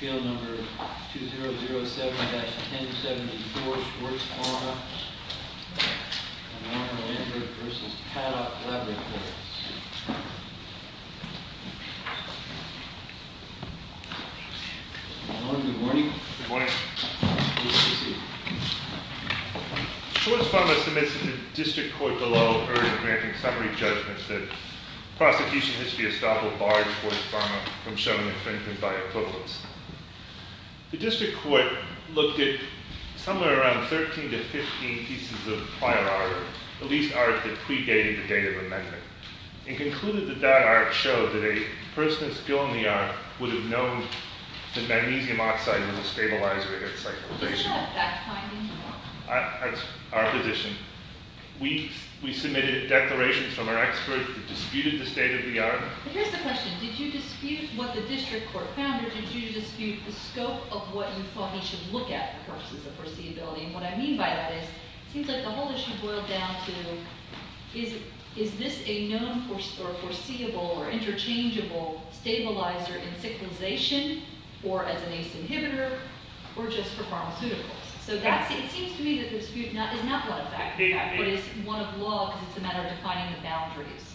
Field number 2007-1074, Schwarz Pharma v. Paddock Labs Good morning. Good morning. Schwarz Pharma submits to the district court below urgent granting summary judgments that prosecution history estoppel barred Schwarz Pharma from showing infringement by equivalence. The district court looked at somewhere around 13 to 15 pieces of prior art, at least art that predated the date of amendment, and concluded that that art showed that a person still in the art would have known that magnesium oxide was a stabilizer against cyclotation. That's our position. We submitted declarations from our experts that disputed the state of the art. But here's the question. Did you dispute what the district court found, or did you dispute the scope of what you thought we should look at versus the foreseeability? And what I mean by that is it seems like the whole issue boiled down to is this a known or foreseeable or interchangeable stabilizer in cyclotation or as an ACE inhibitor or just for pharmaceuticals? So that's – it seems to me that the dispute is not one of that, in fact, but is one of law because it's a matter of defining the boundaries.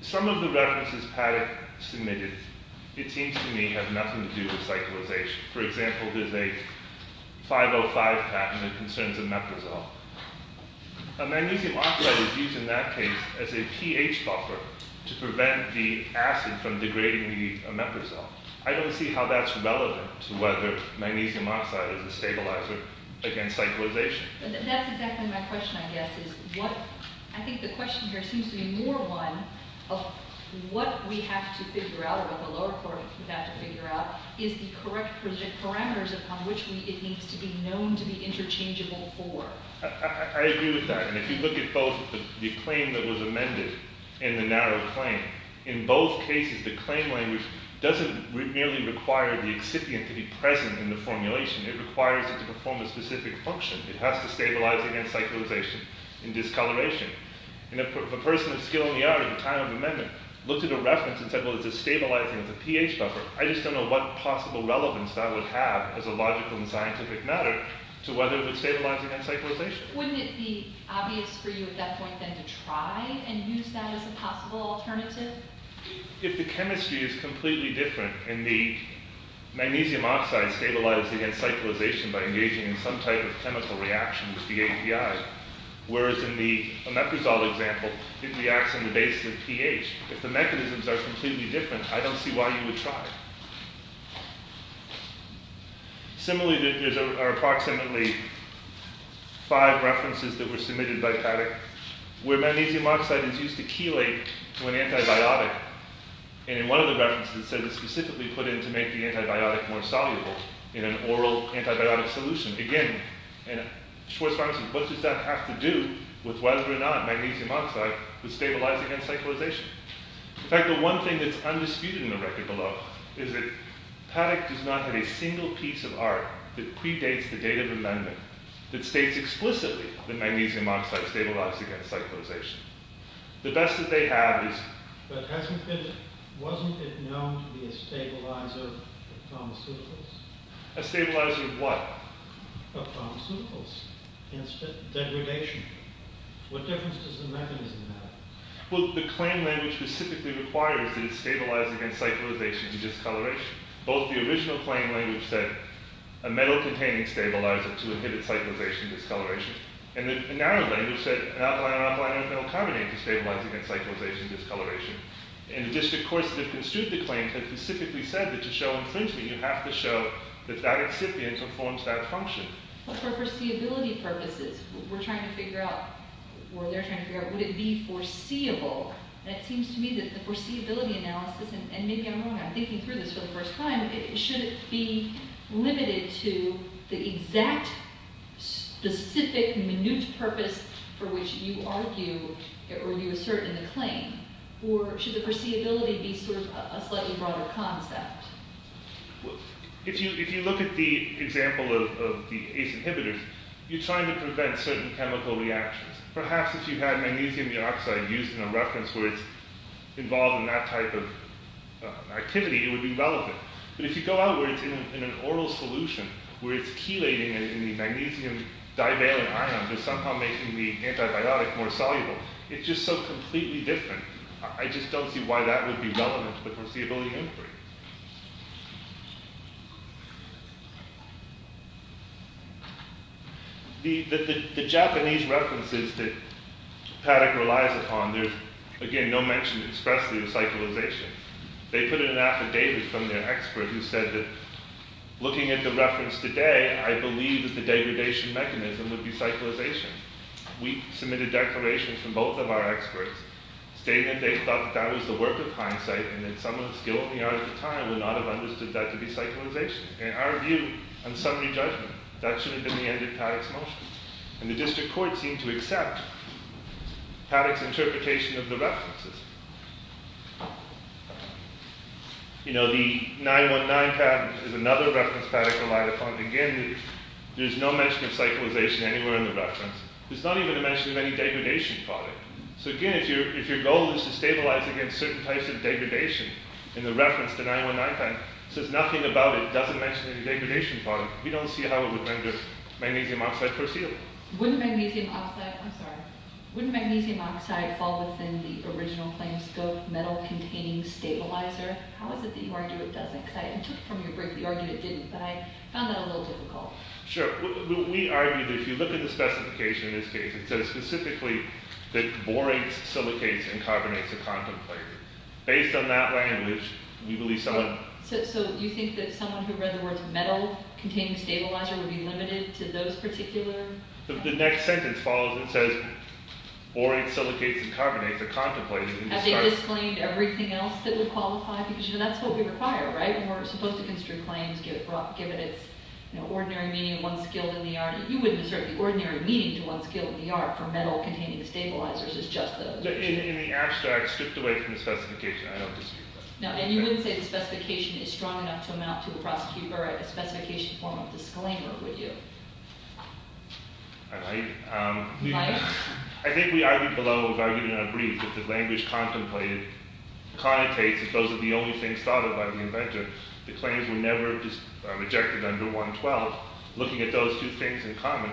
Some of the references Patek submitted, it seems to me, have nothing to do with cyclotation. For example, there's a 505 patent that concerns omeprazole. Magnesium oxide is used in that case as a pH buffer to prevent the acid from degrading the omeprazole. I don't see how that's relevant to whether magnesium oxide is a stabilizer against cyclotation. But that's exactly my question, I guess, is what – I think the question here seems to be more one of what we have to figure out or what the lower court would have to figure out is the correct parameters upon which it needs to be known to be interchangeable for. I agree with that. And if you look at both the claim that was amended and the narrow claim, in both cases the claim language doesn't merely require the excipient to be present in the formulation. It requires it to perform a specific function. It has to stabilize against cyclotation and discoloration. And if a person of skill in the art at the time of amendment looked at a reference and said, well, it's a stabilizer, it's a pH buffer, I just don't know what possible relevance that would have as a logical and scientific matter to whether it would stabilize against cyclotation. Wouldn't it be obvious for you at that point then to try and use that as a possible alternative? If the chemistry is completely different and the magnesium oxide stabilizes against cyclotation by engaging in some type of chemical reaction with the API, whereas in the omeprazole example it reacts in the basis of pH, if the mechanisms are completely different, I don't see why you would try. Similarly, there are approximately five references that were submitted by Paddock where magnesium oxide is used to chelate to an antibiotic. And in one of the references it says it's specifically put in to make the antibiotic more soluble in an oral antibiotic solution. Again, Schwarzschild, what does that have to do with whether or not magnesium oxide would stabilize against cyclotation? In fact, the one thing that's undisputed in the record below is that Paddock does not have a single piece of art that predates the date of amendment that states explicitly that magnesium oxide stabilizes against cyclotation. The best that they have is... But wasn't it known to be a stabilizer of pharmaceuticals? A stabilizer of what? Of pharmaceuticals, instead of degradation. What difference does the mechanism have? Well, the claim language specifically requires that it stabilize against cyclotation and discoloration. Both the original claim language said a metal-containing stabilizer to inhibit cyclotation and discoloration. And the narrow language said an alkaline or alkaline or alkyl carbonate to stabilize against cyclotation and discoloration. And the district courts that have construed the claim have specifically said that to show infringement, you have to show that that excipient performs that function. But for foreseeability purposes, we're trying to figure out, or they're trying to figure out, would it be foreseeable? And it seems to me that the foreseeability analysis, and maybe I'm wrong, I'm thinking through this for the first time, should it be limited to the exact, specific, minute purpose for which you argue or you assert in the claim? Or should the foreseeability be sort of a slightly broader concept? If you look at the example of the ACE inhibitors, you're trying to prevent certain chemical reactions. Perhaps if you had magnesium dioxide used in a reference where it's involved in that type of activity, it would be relevant. But if you go out where it's in an oral solution, where it's chelating in the magnesium divalent ion to somehow make the antibiotic more soluble, it's just so completely different. I just don't see why that would be relevant to the foreseeability inquiry. The Japanese references that Paddock relies upon, there's, again, no mention expressly of cyclization. They put in an affidavit from their expert who said that, looking at the reference today, I believe that the degradation mechanism would be cyclization. We submitted declarations from both of our experts stating that they thought that was the work of hindsight and that someone still in the art of the time would not have understood that to be cyclization. In our view, on summary judgment, that should have been the end of Paddock's motion. And the district court seemed to accept Paddock's interpretation of the references. The 9-1-9 patent is another reference Paddock relied upon. Again, there's no mention of cyclization anywhere in the reference. There's not even a mention of any degradation product. So, again, if your goal is to stabilize against certain types of degradation in the reference, the 9-1-9 patent, says nothing about it, doesn't mention any degradation product, we don't see how it would render magnesium oxide foreseeable. Wouldn't magnesium oxide fall within the original claim scope, metal containing stabilizer? How is it that you argue it doesn't? Because I took it from your brief, you argued it didn't, but I found that a little difficult. Sure. We argued that if you look at the specification in this case, it says specifically that borates, silicates, and carbonates are contemplated. Based on that language, we believe someone... The next sentence follows and says, borates, silicates, and carbonates are contemplated. Have they disclaimed everything else that would qualify? Because, you know, that's what we require, right? We're supposed to construe claims given its, you know, ordinary meaning to one skilled in the art. You wouldn't assert the ordinary meaning to one skilled in the art for metal containing stabilizers as just those. In the abstract, stripped away from the specification. I don't dispute that. No, and you wouldn't say the specification is strong enough to amount to a prosecutor, a specification form of disclaimer, would you? I might. You might. I think we argued below, we've argued in our brief, that the language contemplated connotates that those are the only things thought of by the inventor. The claims were never just rejected under 112. Looking at those two things in common,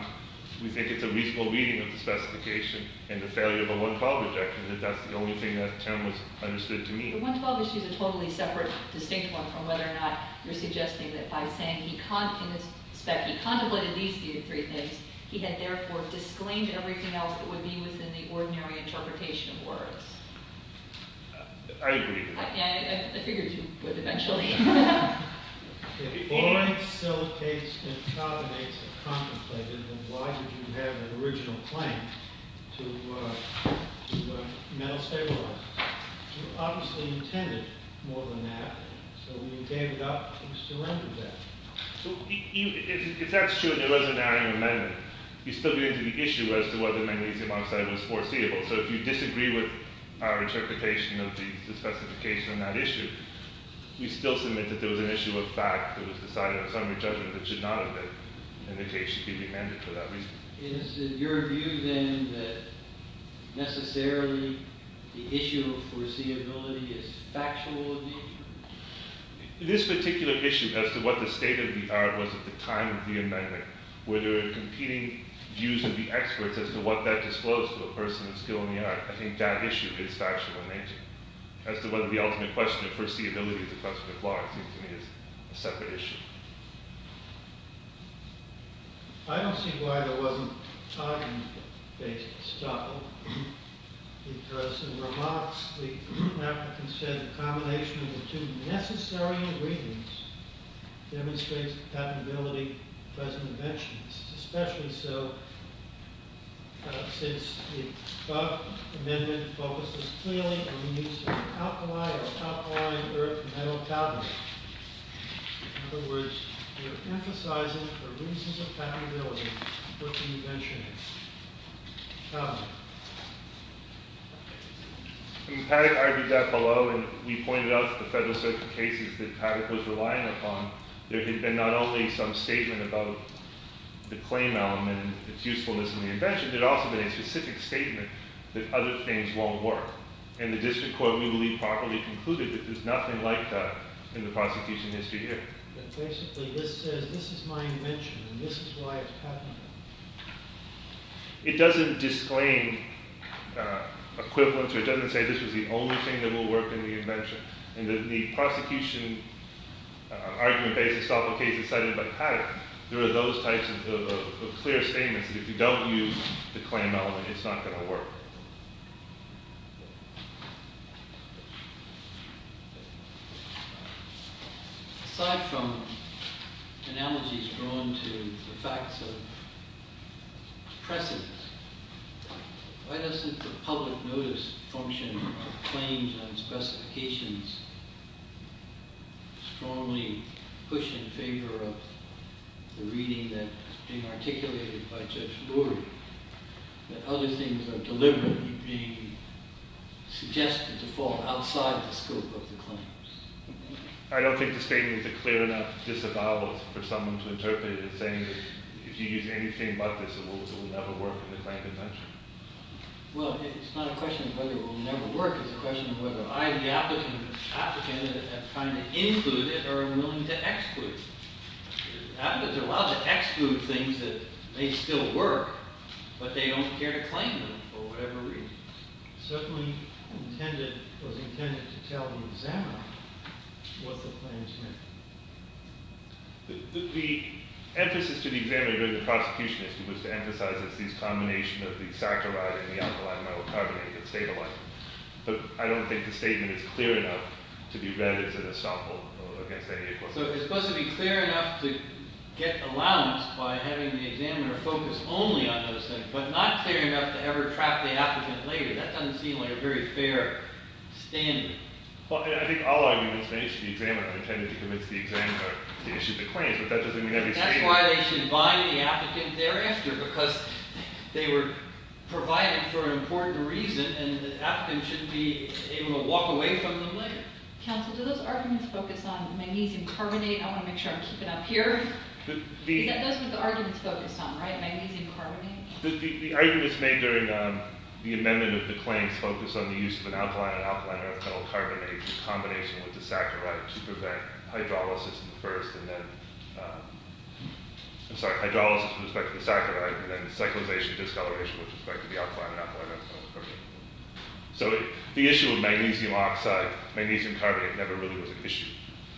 we think it's a reasonable reading of the specification and the failure of a 112 rejection that that's the only thing that Tim was understood to mean. The 112 issue is a totally separate, distinct one from whether or not you're suggesting that by saying he contemplated these three things, he had therefore disclaimed everything else that would be within the ordinary interpretation of words. I agree. I figured you would eventually. If all exilitates and condenates are contemplated, then why did you have an original claim to metal stabilizers? You obviously intended more than that, so you gave it up and surrendered that. If that's true and there wasn't an item of amendment, you still get into the issue as to whether magnesium oxide was foreseeable. So if you disagree with our interpretation of the specification on that issue, we still submit that there was an issue of fact that was decided on a summary judgment that should not have been. Indication can be amended for that reason. Is it your view, then, that necessarily the issue of foreseeability is factual in nature? In this particular issue, as to what the state of the art was at the time of the amendment, were there competing views of the experts as to what that disclosed to a person of skill in the art? I think that issue is factual in nature. As to whether the ultimate question of foreseeability is a question of law, it seems to me is a separate issue. I don't see why there wasn't time-based stoppage. Because, in remarks, the African said, the combination of the two necessary ingredients demonstrates the patentability of the present invention. This is especially so since the above amendment focuses clearly on the use of alkali or alkaline earth and metal carbonate. In other words, we're emphasizing the reasons of patentability for the invention of carbonate. I mean, Paddock argued that below, and we pointed out the Federal Circuit cases that Paddock was relying upon. There had been not only some statement about the claim element and its usefulness in the invention, there had also been a specific statement that other things won't work. And the District Court, we believe, properly concluded that there's nothing like that in the prosecution history here. But basically, this says, this is my invention, and this is why it's patentable. It doesn't disclaim equivalence, or it doesn't say this is the only thing that will work in the invention. In the prosecution argument-based stoppage case decided by Paddock, there are those types of clear statements that if you don't use the claim element, it's not going to work. Aside from analogies drawn to the facts of pressings, why doesn't the public notice function of claims and specifications strongly push in favor of the reading that is being articulated by Judge Brewer, that other things are deliberately being suggested to fall outside the scope of the claims? I don't think the statement is a clear enough disavowal for someone to interpret it as saying that if you use anything but this, it will never work in the claim invention. Well, it's not a question of whether it will never work. It's a question of whether I, the applicant, am trying to include it or am willing to exclude it. Applicants are allowed to exclude things that may still work, but they don't care to claim them for whatever reason. Certainly, it was intended to tell the examiner what the claims meant. The emphasis to the examiner during the prosecution was to emphasize this combination of the saccharide and the alkaline amylocarbonate that stayed alive. But I don't think the statement is clear enough to be read as an estoppel against any equivalence. So it's supposed to be clear enough to get allowance by having the examiner focus only on those things, but not clear enough to ever trap the applicant later. That doesn't seem like a very fair standing. Well, I think all arguments made to the examiner tended to convince the examiner to issue the claims, but that doesn't mean every statement— That's why they should bind the applicant thereafter, because they were provided for an important reason, and the applicant shouldn't be able to walk away from them later. Counsel, do those arguments focus on magnesium carbonate? I want to make sure I'm keeping up here. Is that what those arguments focus on, right? Magnesium carbonate? The arguments made during the amendment of the claims focus on the use of an alkaline and alkaline amylocarbonate in combination with the saccharide to prevent hydrolysis with respect to the saccharide, and then cyclization and discoloration with respect to the alkaline and alkaline amylocarbonate. So the issue of magnesium oxide, magnesium carbonate, never really was an issue.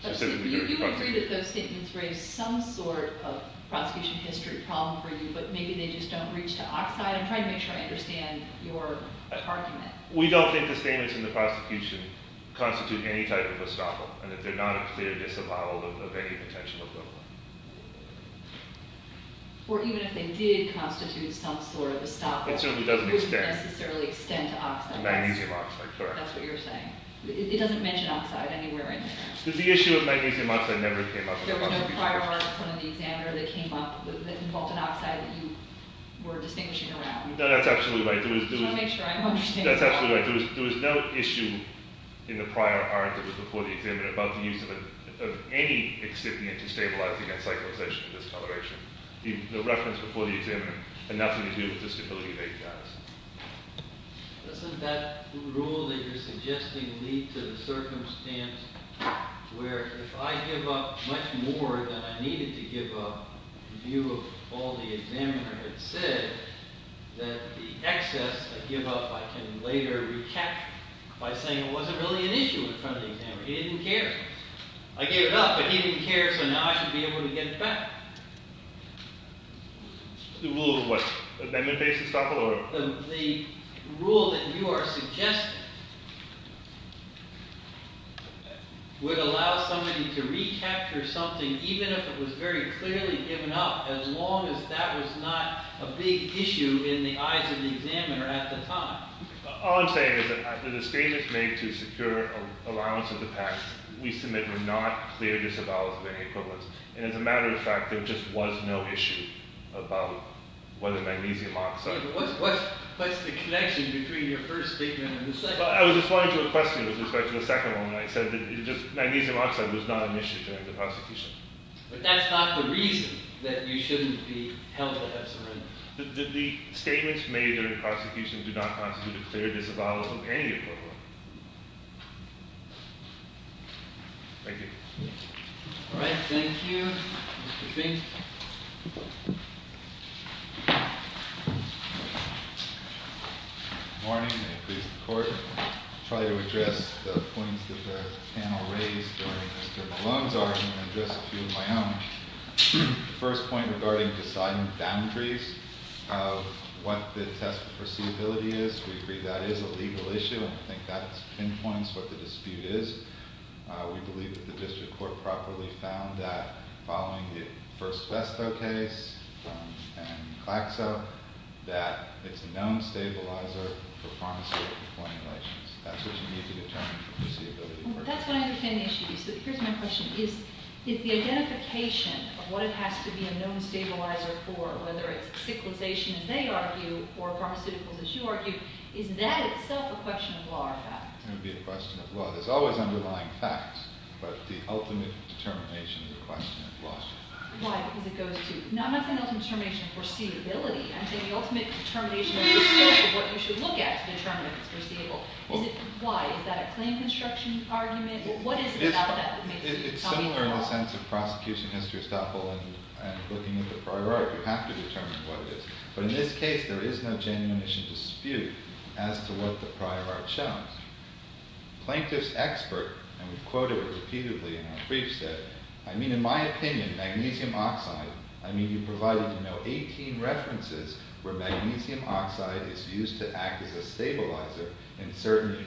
You agree that those statements raise some sort of prosecution history problem for you, but maybe they just don't reach to oxide. I'm trying to make sure I understand your argument. We don't think the statements in the prosecution constitute any type of estoppel, and that they're not a clear disavowal of any potential equivalent. Or even if they did constitute some sort of estoppel— It certainly doesn't extend. —it wouldn't necessarily extend to oxide. Magnesium oxide, correct. That's what you're saying. It doesn't mention oxide anywhere in there. The issue of magnesium oxide never came up. There was no prior article in the examiner that came up that involved an oxide that you were distinguishing around. No, that's absolutely right. I want to make sure I'm understanding. That's absolutely right. There was no issue in the prior article before the examiner about the use of any excipient to stabilize against cyclization and discoloration. No reference before the examiner, and nothing to do with the stability of HX. Doesn't that rule that you're suggesting lead to the circumstance where if I give up much more than I needed to give up, in view of all the examiner had said, that the excess I give up I can later recapture by saying it wasn't really an issue in front of the examiner. He didn't care. I gave it up, but he didn't care, so now I should be able to get it back. The rule of what? Amendment-based estoppel? The rule that you are suggesting would allow somebody to recapture something even if it was very clearly given up, as long as that was not a big issue in the eyes of the examiner at the time. All I'm saying is that the statements made to secure allowance of the pack we submit were not clear disavowals of any equivalence. And as a matter of fact, there just was no issue about whether magnesium oxide... What's the connection between your first statement and the second one? I was responding to a question with respect to the second one, and I said that magnesium oxide was not an issue during the prosecution. But that's not the reason that you shouldn't be held to have surrendered. The statements made during the prosecution do not constitute a clear disavowal of any equivalence. Thank you. All right. Thank you, Mr. Fink. Good morning. May it please the Court. I'll try to address the points that the panel raised during Mr. Malone's argument and address a few of my own. The first point regarding deciding boundaries of what the test of perceivability is. We agree that is a legal issue, and I think that pinpoints what the dispute is. We believe that the district court properly found that, following the first PESTO case and CLAXO, that it's a known stabilizer for pharmaceutical formulations. That's what you need to determine for perceivability. That's what I understand the issue is. But here's my question. Is the identification of what it has to be a known stabilizer for, whether it's sickleization, as they argue, or pharmaceuticals, as you argue, is that itself a question of law or fact? It would be a question of law. There's always underlying facts, but the ultimate determination of the question is law. Why? Because it goes to—I'm not saying the ultimate determination of perceivability. I'm saying the ultimate determination of the scope of what you should look at to determine if it's perceivable. Why? Is that a claim construction argument? What is it about that that makes you— It's similar in the sense of prosecution. Mr. Estapol and looking at the prior art, you have to determine what it is. But in this case, there is no genuinition dispute as to what the prior art shows. Plaintiff's expert—and we've quoted it repeatedly in our briefs—said, I mean, in my opinion, magnesium oxide—I mean, you provided 18 references where magnesium oxide is used to act as a stabilizer in certain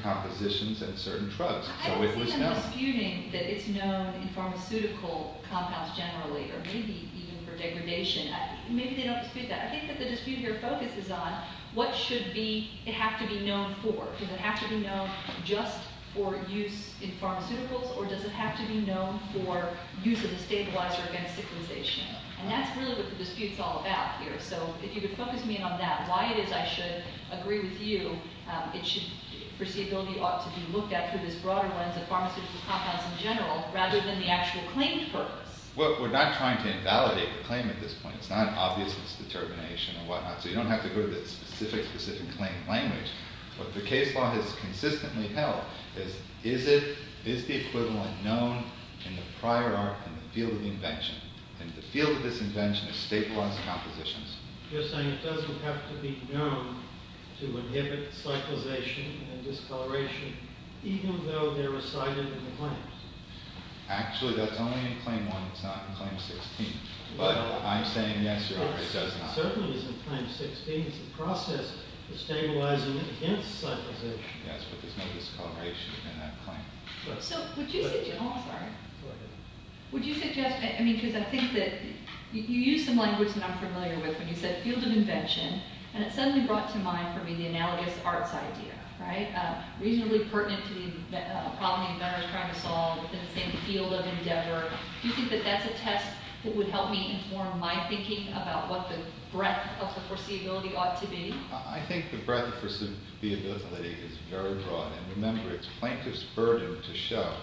compositions and certain drugs. So it was known. I don't see them disputing that it's known in pharmaceutical compounds generally or maybe even for degradation. Maybe they don't dispute that. I think that the dispute here focuses on what should be—it has to be known for. Does it have to be known just for use in pharmaceuticals or does it have to be known for use as a stabilizer against stigmatization? And that's really what the dispute is all about here. So if you could focus me on that, why it is I should agree with you, it should—perceivability ought to be looked at through this broader lens of pharmaceutical compounds in general rather than the actual claim purpose. Well, we're not trying to invalidate the claim at this point. It's not obvious it's determination or whatnot. So you don't have to go to the specific, specific claim language. What the case law has consistently held is, is it—is the equivalent known in the prior art and the field of the invention? And the field of this invention is state-wise compositions. You're saying it doesn't have to be known to inhibit cyclization and discoloration even though they're recited in the claims? Actually, that's only in Claim 1. It's not in Claim 16. But I'm saying yes or no, it does not. Certainly it's in Claim 16. It's a process for stabilizing against cyclization. Yes, but there's no discoloration in that claim. So would you suggest—oh, I'm sorry. Go ahead. Would you suggest—I mean, because I think that you used some language that I'm familiar with when you said field of invention, and it suddenly brought to mind for me the analogous arts idea, right? Reasonably pertinent to the problem the inventor is trying to solve in the same field of endeavor. Do you think that that's a test that would help me inform my thinking about what the breadth of the foreseeability ought to be? I think the breadth of foreseeability is very broad. And remember, it's plaintiff's burden to show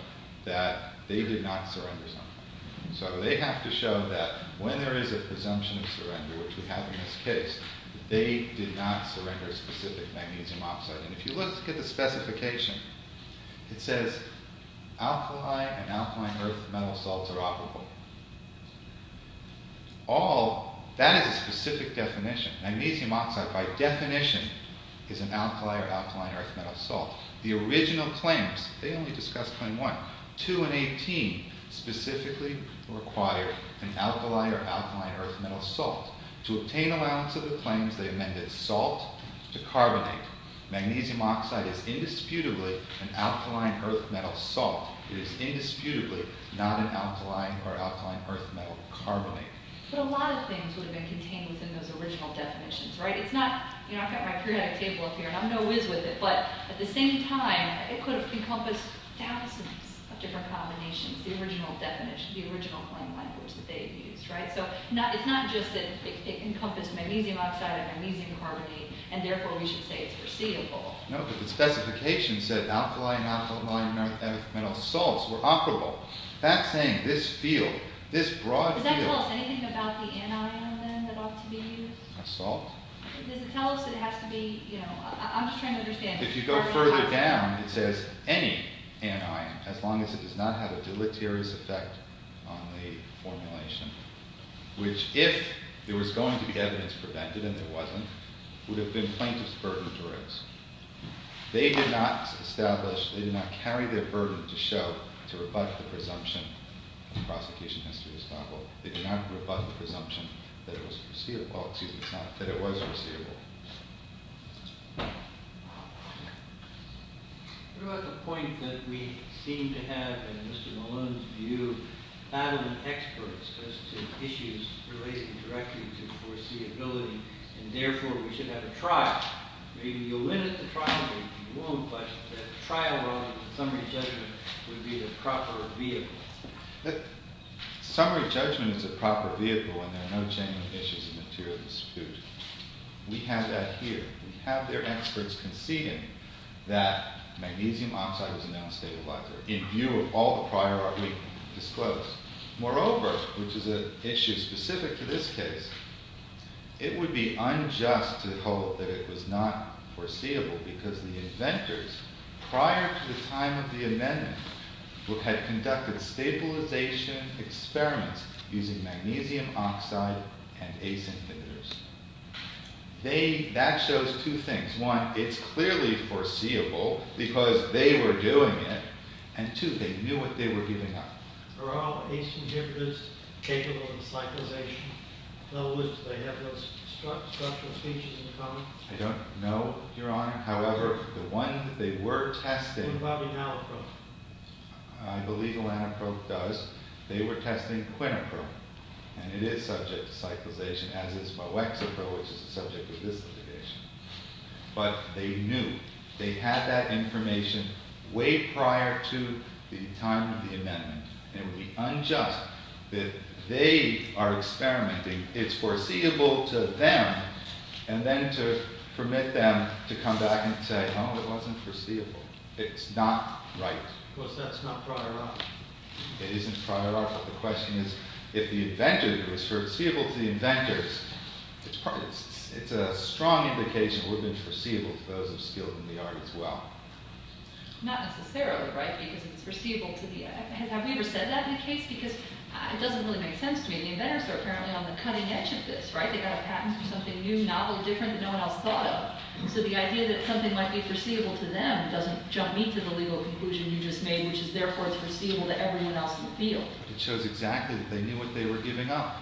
that they did not surrender something. So they have to show that when there is a presumption of surrender, which we have in this case, they did not surrender a specific magnesium oxide. If you look at the specification, it says alkali and alkaline earth metal salts are operable. That is a specific definition. Magnesium oxide, by definition, is an alkali or alkaline earth metal salt. The original claims—they only discussed Claim 1. 2 and 18 specifically require an alkali or alkaline earth metal salt. To obtain allowance of the claims, they amended salt to carbonate. Magnesium oxide is indisputably an alkaline earth metal salt. It is indisputably not an alkaline or alkaline earth metal carbonate. But a lot of things would have been contained within those original definitions, right? It's not—you know, I've got my periodic table up here, and I'm no whiz with it, but at the same time, it could have encompassed thousands of different combinations, the original definition, the original claim language that they used, right? So it's not just that it encompassed magnesium oxide and magnesium carbonate, and therefore we should say it's foreseeable. No, but the specification said alkali and alkaline earth metal salts were operable. That saying, this field, this broad field— Does that tell us anything about the anion, then, that ought to be used? A salt? Does it tell us that it has to be—you know, I'm just trying to understand. If you go further down, it says any anion, as long as it does not have a deleterious effect on the formulation, which if there was going to be evidence to prevent it, and there wasn't, would have been plaintiff's burden to raise. They did not establish—they did not carry their burden to show, to rebut the presumption of the prosecution history of Stockwell. They did not rebut the presumption that it was foreseeable— well, excuse me, it's not—that it was foreseeable. What about the point that we seem to have, in Mr. Malone's view, adamant experts as to issues relating directly to foreseeability, and therefore we should have a trial? Maybe you'll win at the trial, maybe you won't, but the trial rather than summary judgment would be the proper vehicle. Summary judgment is a proper vehicle, and there are no genuine issues of material dispute. We have that here. We have their experts conceding that magnesium oxide was a non-stabilizer in view of all the prior argument disclosed. Moreover, which is an issue specific to this case, it would be unjust to hold that it was not foreseeable because the inventors, prior to the time of the amendment, had conducted stabilization experiments using magnesium oxide and ACE inhibitors. That shows two things. One, it's clearly foreseeable because they were doing it, and two, they knew what they were giving up. Are all ACE inhibitors capable of cyclization? In other words, do they have those structural features in common? I don't know, Your Honor. However, the one that they were testing— I believe the Lanaproof does. They were testing Quinaproof, and it is subject to cyclization, as is Boexapro, which is the subject of this litigation. But they knew. They had that information way prior to the time of the amendment, and it would be unjust that they are experimenting. It's foreseeable to them, and then to permit them to come back and say, no, it wasn't foreseeable. It's not right. Of course, that's not prior art. It isn't prior art, but the question is, if the inventor was foreseeable to the inventors, it's a strong indication that it would have been foreseeable to those of skill in the art as well. Not necessarily right because it's foreseeable to the— have we ever said that in a case? Because it doesn't really make sense to me. The inventors are apparently on the cutting edge of this, right? They got a patent for something new, novel, different, that no one else thought of. So the idea that something might be foreseeable to them doesn't jump me to the legal conclusion you just made, which is therefore it's foreseeable to everyone else in the field. It shows exactly that they knew what they were giving up.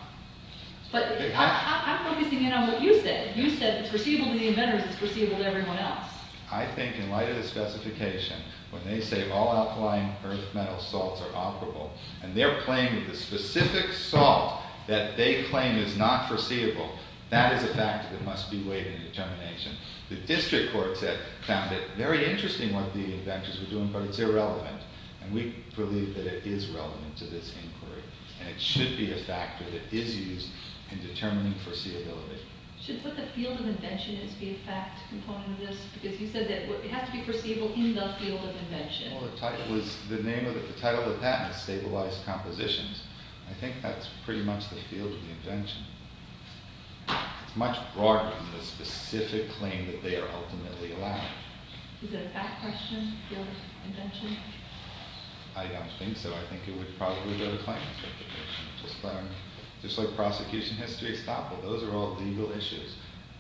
But I'm focusing in on what you said. You said it's foreseeable to the inventors. It's foreseeable to everyone else. I think in light of the specification, when they say all alkaline earth metals salts are operable, and they're claiming the specific salt that they claim is not foreseeable, that is a factor that must be weighed in determination. The district courts have found it very interesting what the inventors were doing, but it's irrelevant. And we believe that it is relevant to this inquiry. And it should be a factor that is used in determining foreseeability. Should what the field of invention is be a fact component of this? Because you said that it has to be foreseeable in the field of invention. Well, the title of the patent is stabilized compositions. I think that's pretty much the field of the invention. It's much broader than the specific claim that they are ultimately allowed. Is it a fact question, the field of invention? I don't think so. I think it would probably be a claim to the invention. Just like prosecution history, estoppel, those are all legal issues.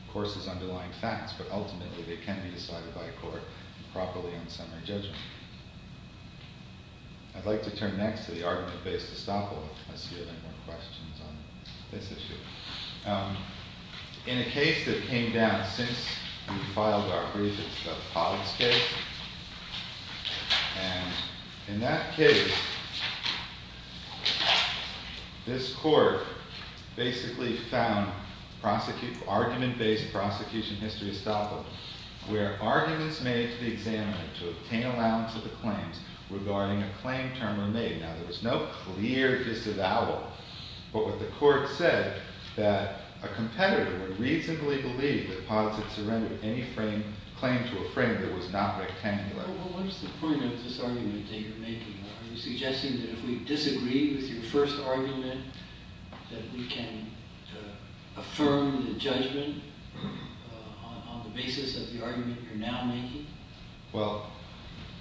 Of course, there's underlying facts, but ultimately they can be decided by a court properly on summary judgment. I'd like to turn next to the argument based estoppel. I see a lot more questions on this issue. In a case that came down since we filed our brief, it's the Pollock's case. And in that case, this court basically found argument based prosecution history estoppel, where arguments made to the examiner to obtain allowance of the claims regarding a claim term were made. Now, there was no clear disavowal, but what the court said that a competitor would reasonably believe that Pollock had surrendered any claim to a frame that was not rectangular. Well, what's the point of this argument that you're making? Are you suggesting that if we disagree with your first argument, that we can affirm the judgment on the basis of the argument you're now making? Well,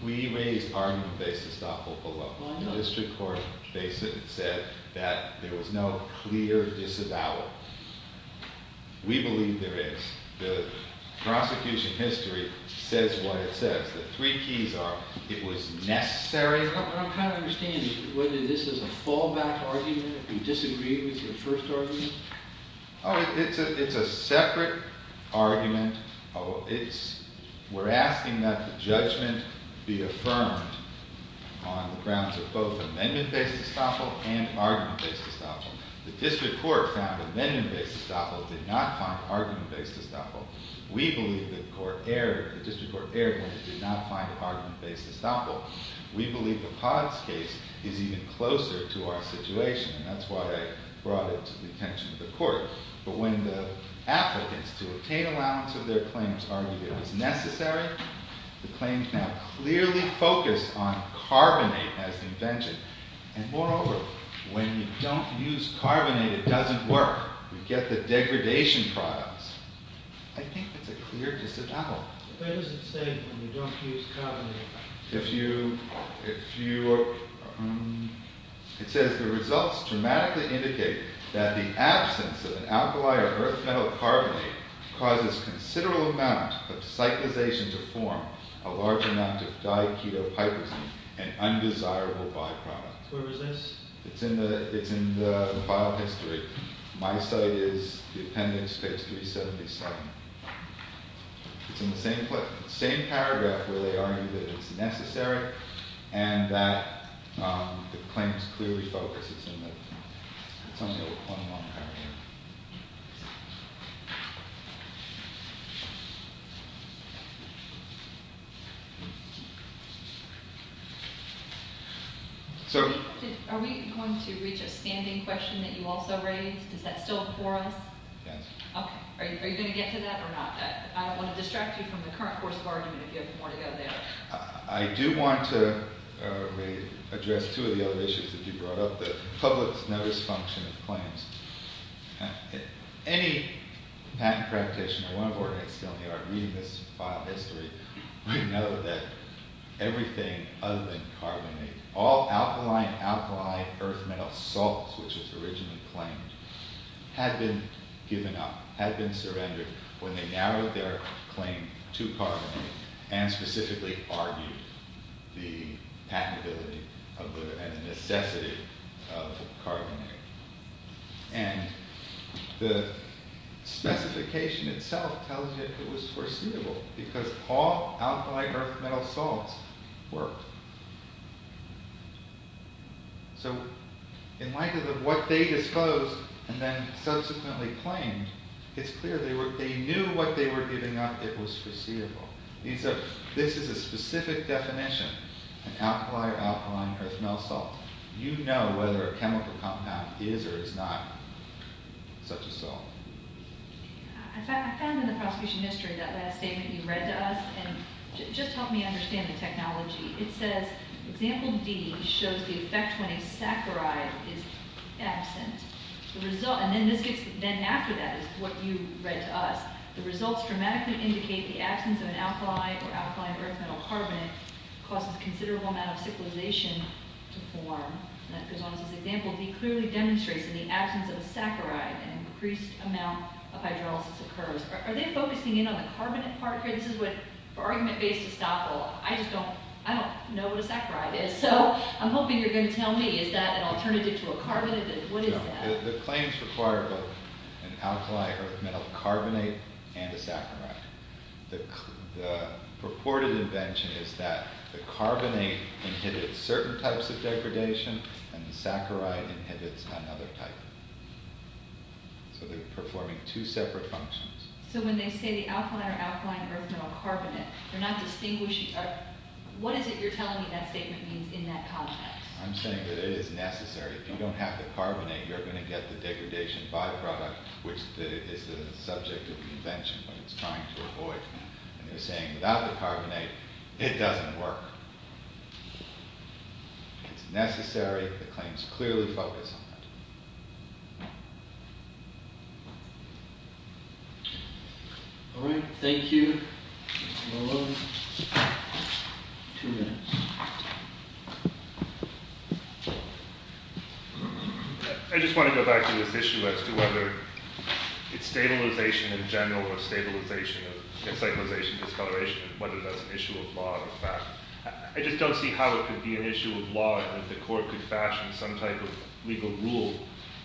we raised argument based estoppel below. The district court basically said that there was no clear disavowal. We believe there is. The prosecution history says what it says. The three keys are it was necessary. What I'm trying to understand is whether this is a fallback argument, if you disagree with your first argument. Oh, it's a separate argument. We're asking that the judgment be affirmed on the grounds of both amendment based estoppel and argument based estoppel. The district court found amendment based estoppel did not find argument based estoppel. We believe the district court erred when it did not find argument based estoppel. We believe the Potts case is even closer to our situation, and that's why I brought it to the attention of the court. But when the applicants to obtain allowance of their claims argued it was necessary, the claims now clearly focus on carbonate as the invention. And moreover, when you don't use carbonate, it doesn't work. We get the degradation products. I think it's a clear disavowal. What does it say when you don't use carbonate? It says the results dramatically indicate that the absence of an alkali or earth metal carbonate causes considerable amount of cyclization to form a large amount of diaketopiprazine, an undesirable byproduct. Where is this? It's in the file history. My site is the appendix, page 377. It's in the same paragraph where they argue that it's necessary and that the claims clearly focus on carbonate. Are we going to reach a standing question that you also raised? Is that still before us? Yes. Okay. Are you going to get to that or not? I don't want to distract you from the current course of argument if you have more to go there. I do want to address two of the other issues that you brought up, the public's notice function of claims. Any patent practitioner, one of our ex-filmmakers, reading this file history, would know that everything other than carbonate, all alkali and alkali earth metal salts, which was originally claimed, had been given up, had been surrendered, when they narrowed their claim to carbonate and specifically argued the patentability and necessity of carbonate. And the specification itself tells you it was foreseeable because all alkali earth metal salts worked. So in light of what they disclosed and then subsequently claimed, it's clear they knew what they were giving up, it was foreseeable. And so this is a specific definition, an alkali or alkali earth metal salt. You know whether a chemical compound is or is not such a salt. I found in the prosecution history that last statement you read to us, and it just helped me understand the technology. It says, Example D shows the effect when a saccharide is absent. And then after that is what you read to us. The results dramatically indicate the absence of an alkali or alkali earth metal carbonate causes considerable amount of cyclization to form. And it goes on to say, Example D clearly demonstrates in the absence of a saccharide an increased amount of hydrolysis occurs. Are they focusing in on the carbonate part here? This is an argument based estoppel. I just don't know what a saccharide is. So I'm hoping you're going to tell me. Is that an alternative to a carbonate? What is that? The claims require both an alkali earth metal carbonate and a saccharide. The purported invention is that the carbonate inhibits certain types of degradation and the saccharide inhibits another type. So they're performing two separate functions. So when they say the alkali or alkali earth metal carbonate, they're not distinguishing. What is it you're telling me that statement means in that context? I'm saying that it is necessary. If you don't have the carbonate, you're going to get the degradation byproduct, which is the subject of the invention when it's trying to avoid. And they're saying without the carbonate, it doesn't work. It's necessary. The claims clearly focus on that. All right. Thank you. Mr. Malone. Two minutes. I just want to go back to this issue as to whether it's stabilization in general or stabilization of encyclization, discoloration, and whether that's an issue of law or fact. I just don't see how it could be an issue of law and that the court could fashion some type of legal rule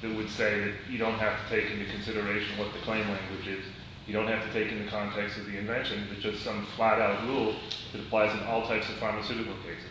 that would say that you don't have to take into consideration what the claim language is. You don't have to take into context of the invention but just some flat-out rule that applies in all types of pharmaceutical cases.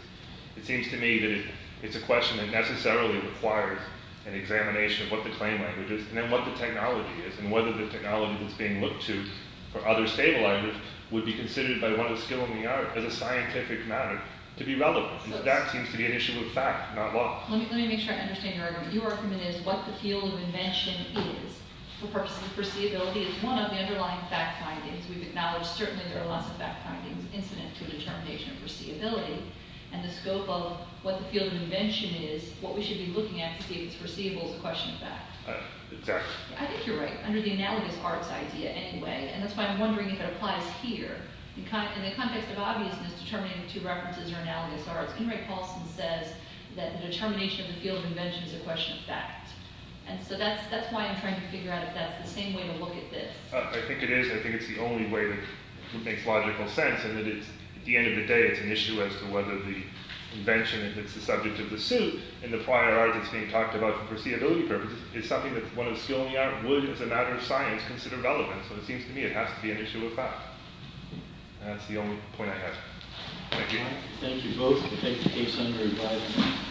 It seems to me that it's a question that necessarily requires an examination of what the claim language is and then what the technology is and whether the technology that's being looked to for other stabilizers would be considered by one of the skill in the art as a scientific matter to be relevant. So that seems to be an issue of fact, not law. Let me make sure I understand your argument. Your argument is what the field of invention is for the purpose of foreseeability is one of the underlying fact findings. We've acknowledged certainly there are lots of fact findings incident to the determination of foreseeability and the scope of what the field of invention is, what we should be looking at to see if it's foreseeable is a question of fact. Exactly. I think you're right under the analogous arts idea anyway and that's why I'm wondering if it applies here. In the context of obviousness determining two references or analogous arts, Henry Paulson says that the determination of the field of invention is a question of fact. And so that's why I'm trying to figure out if that's the same way to look at this. I think it is. I think it's the only way that makes logical sense and that at the end of the day it's an issue as to whether the invention, if it's the subject of the suit, in the prior art that's being talked about for foreseeability purposes is something that one of the skill in the art would, as a matter of science, consider relevant. So it seems to me it has to be an issue of fact. That's the only point I have. Thank you. Thank you both. We'll take the case under revising.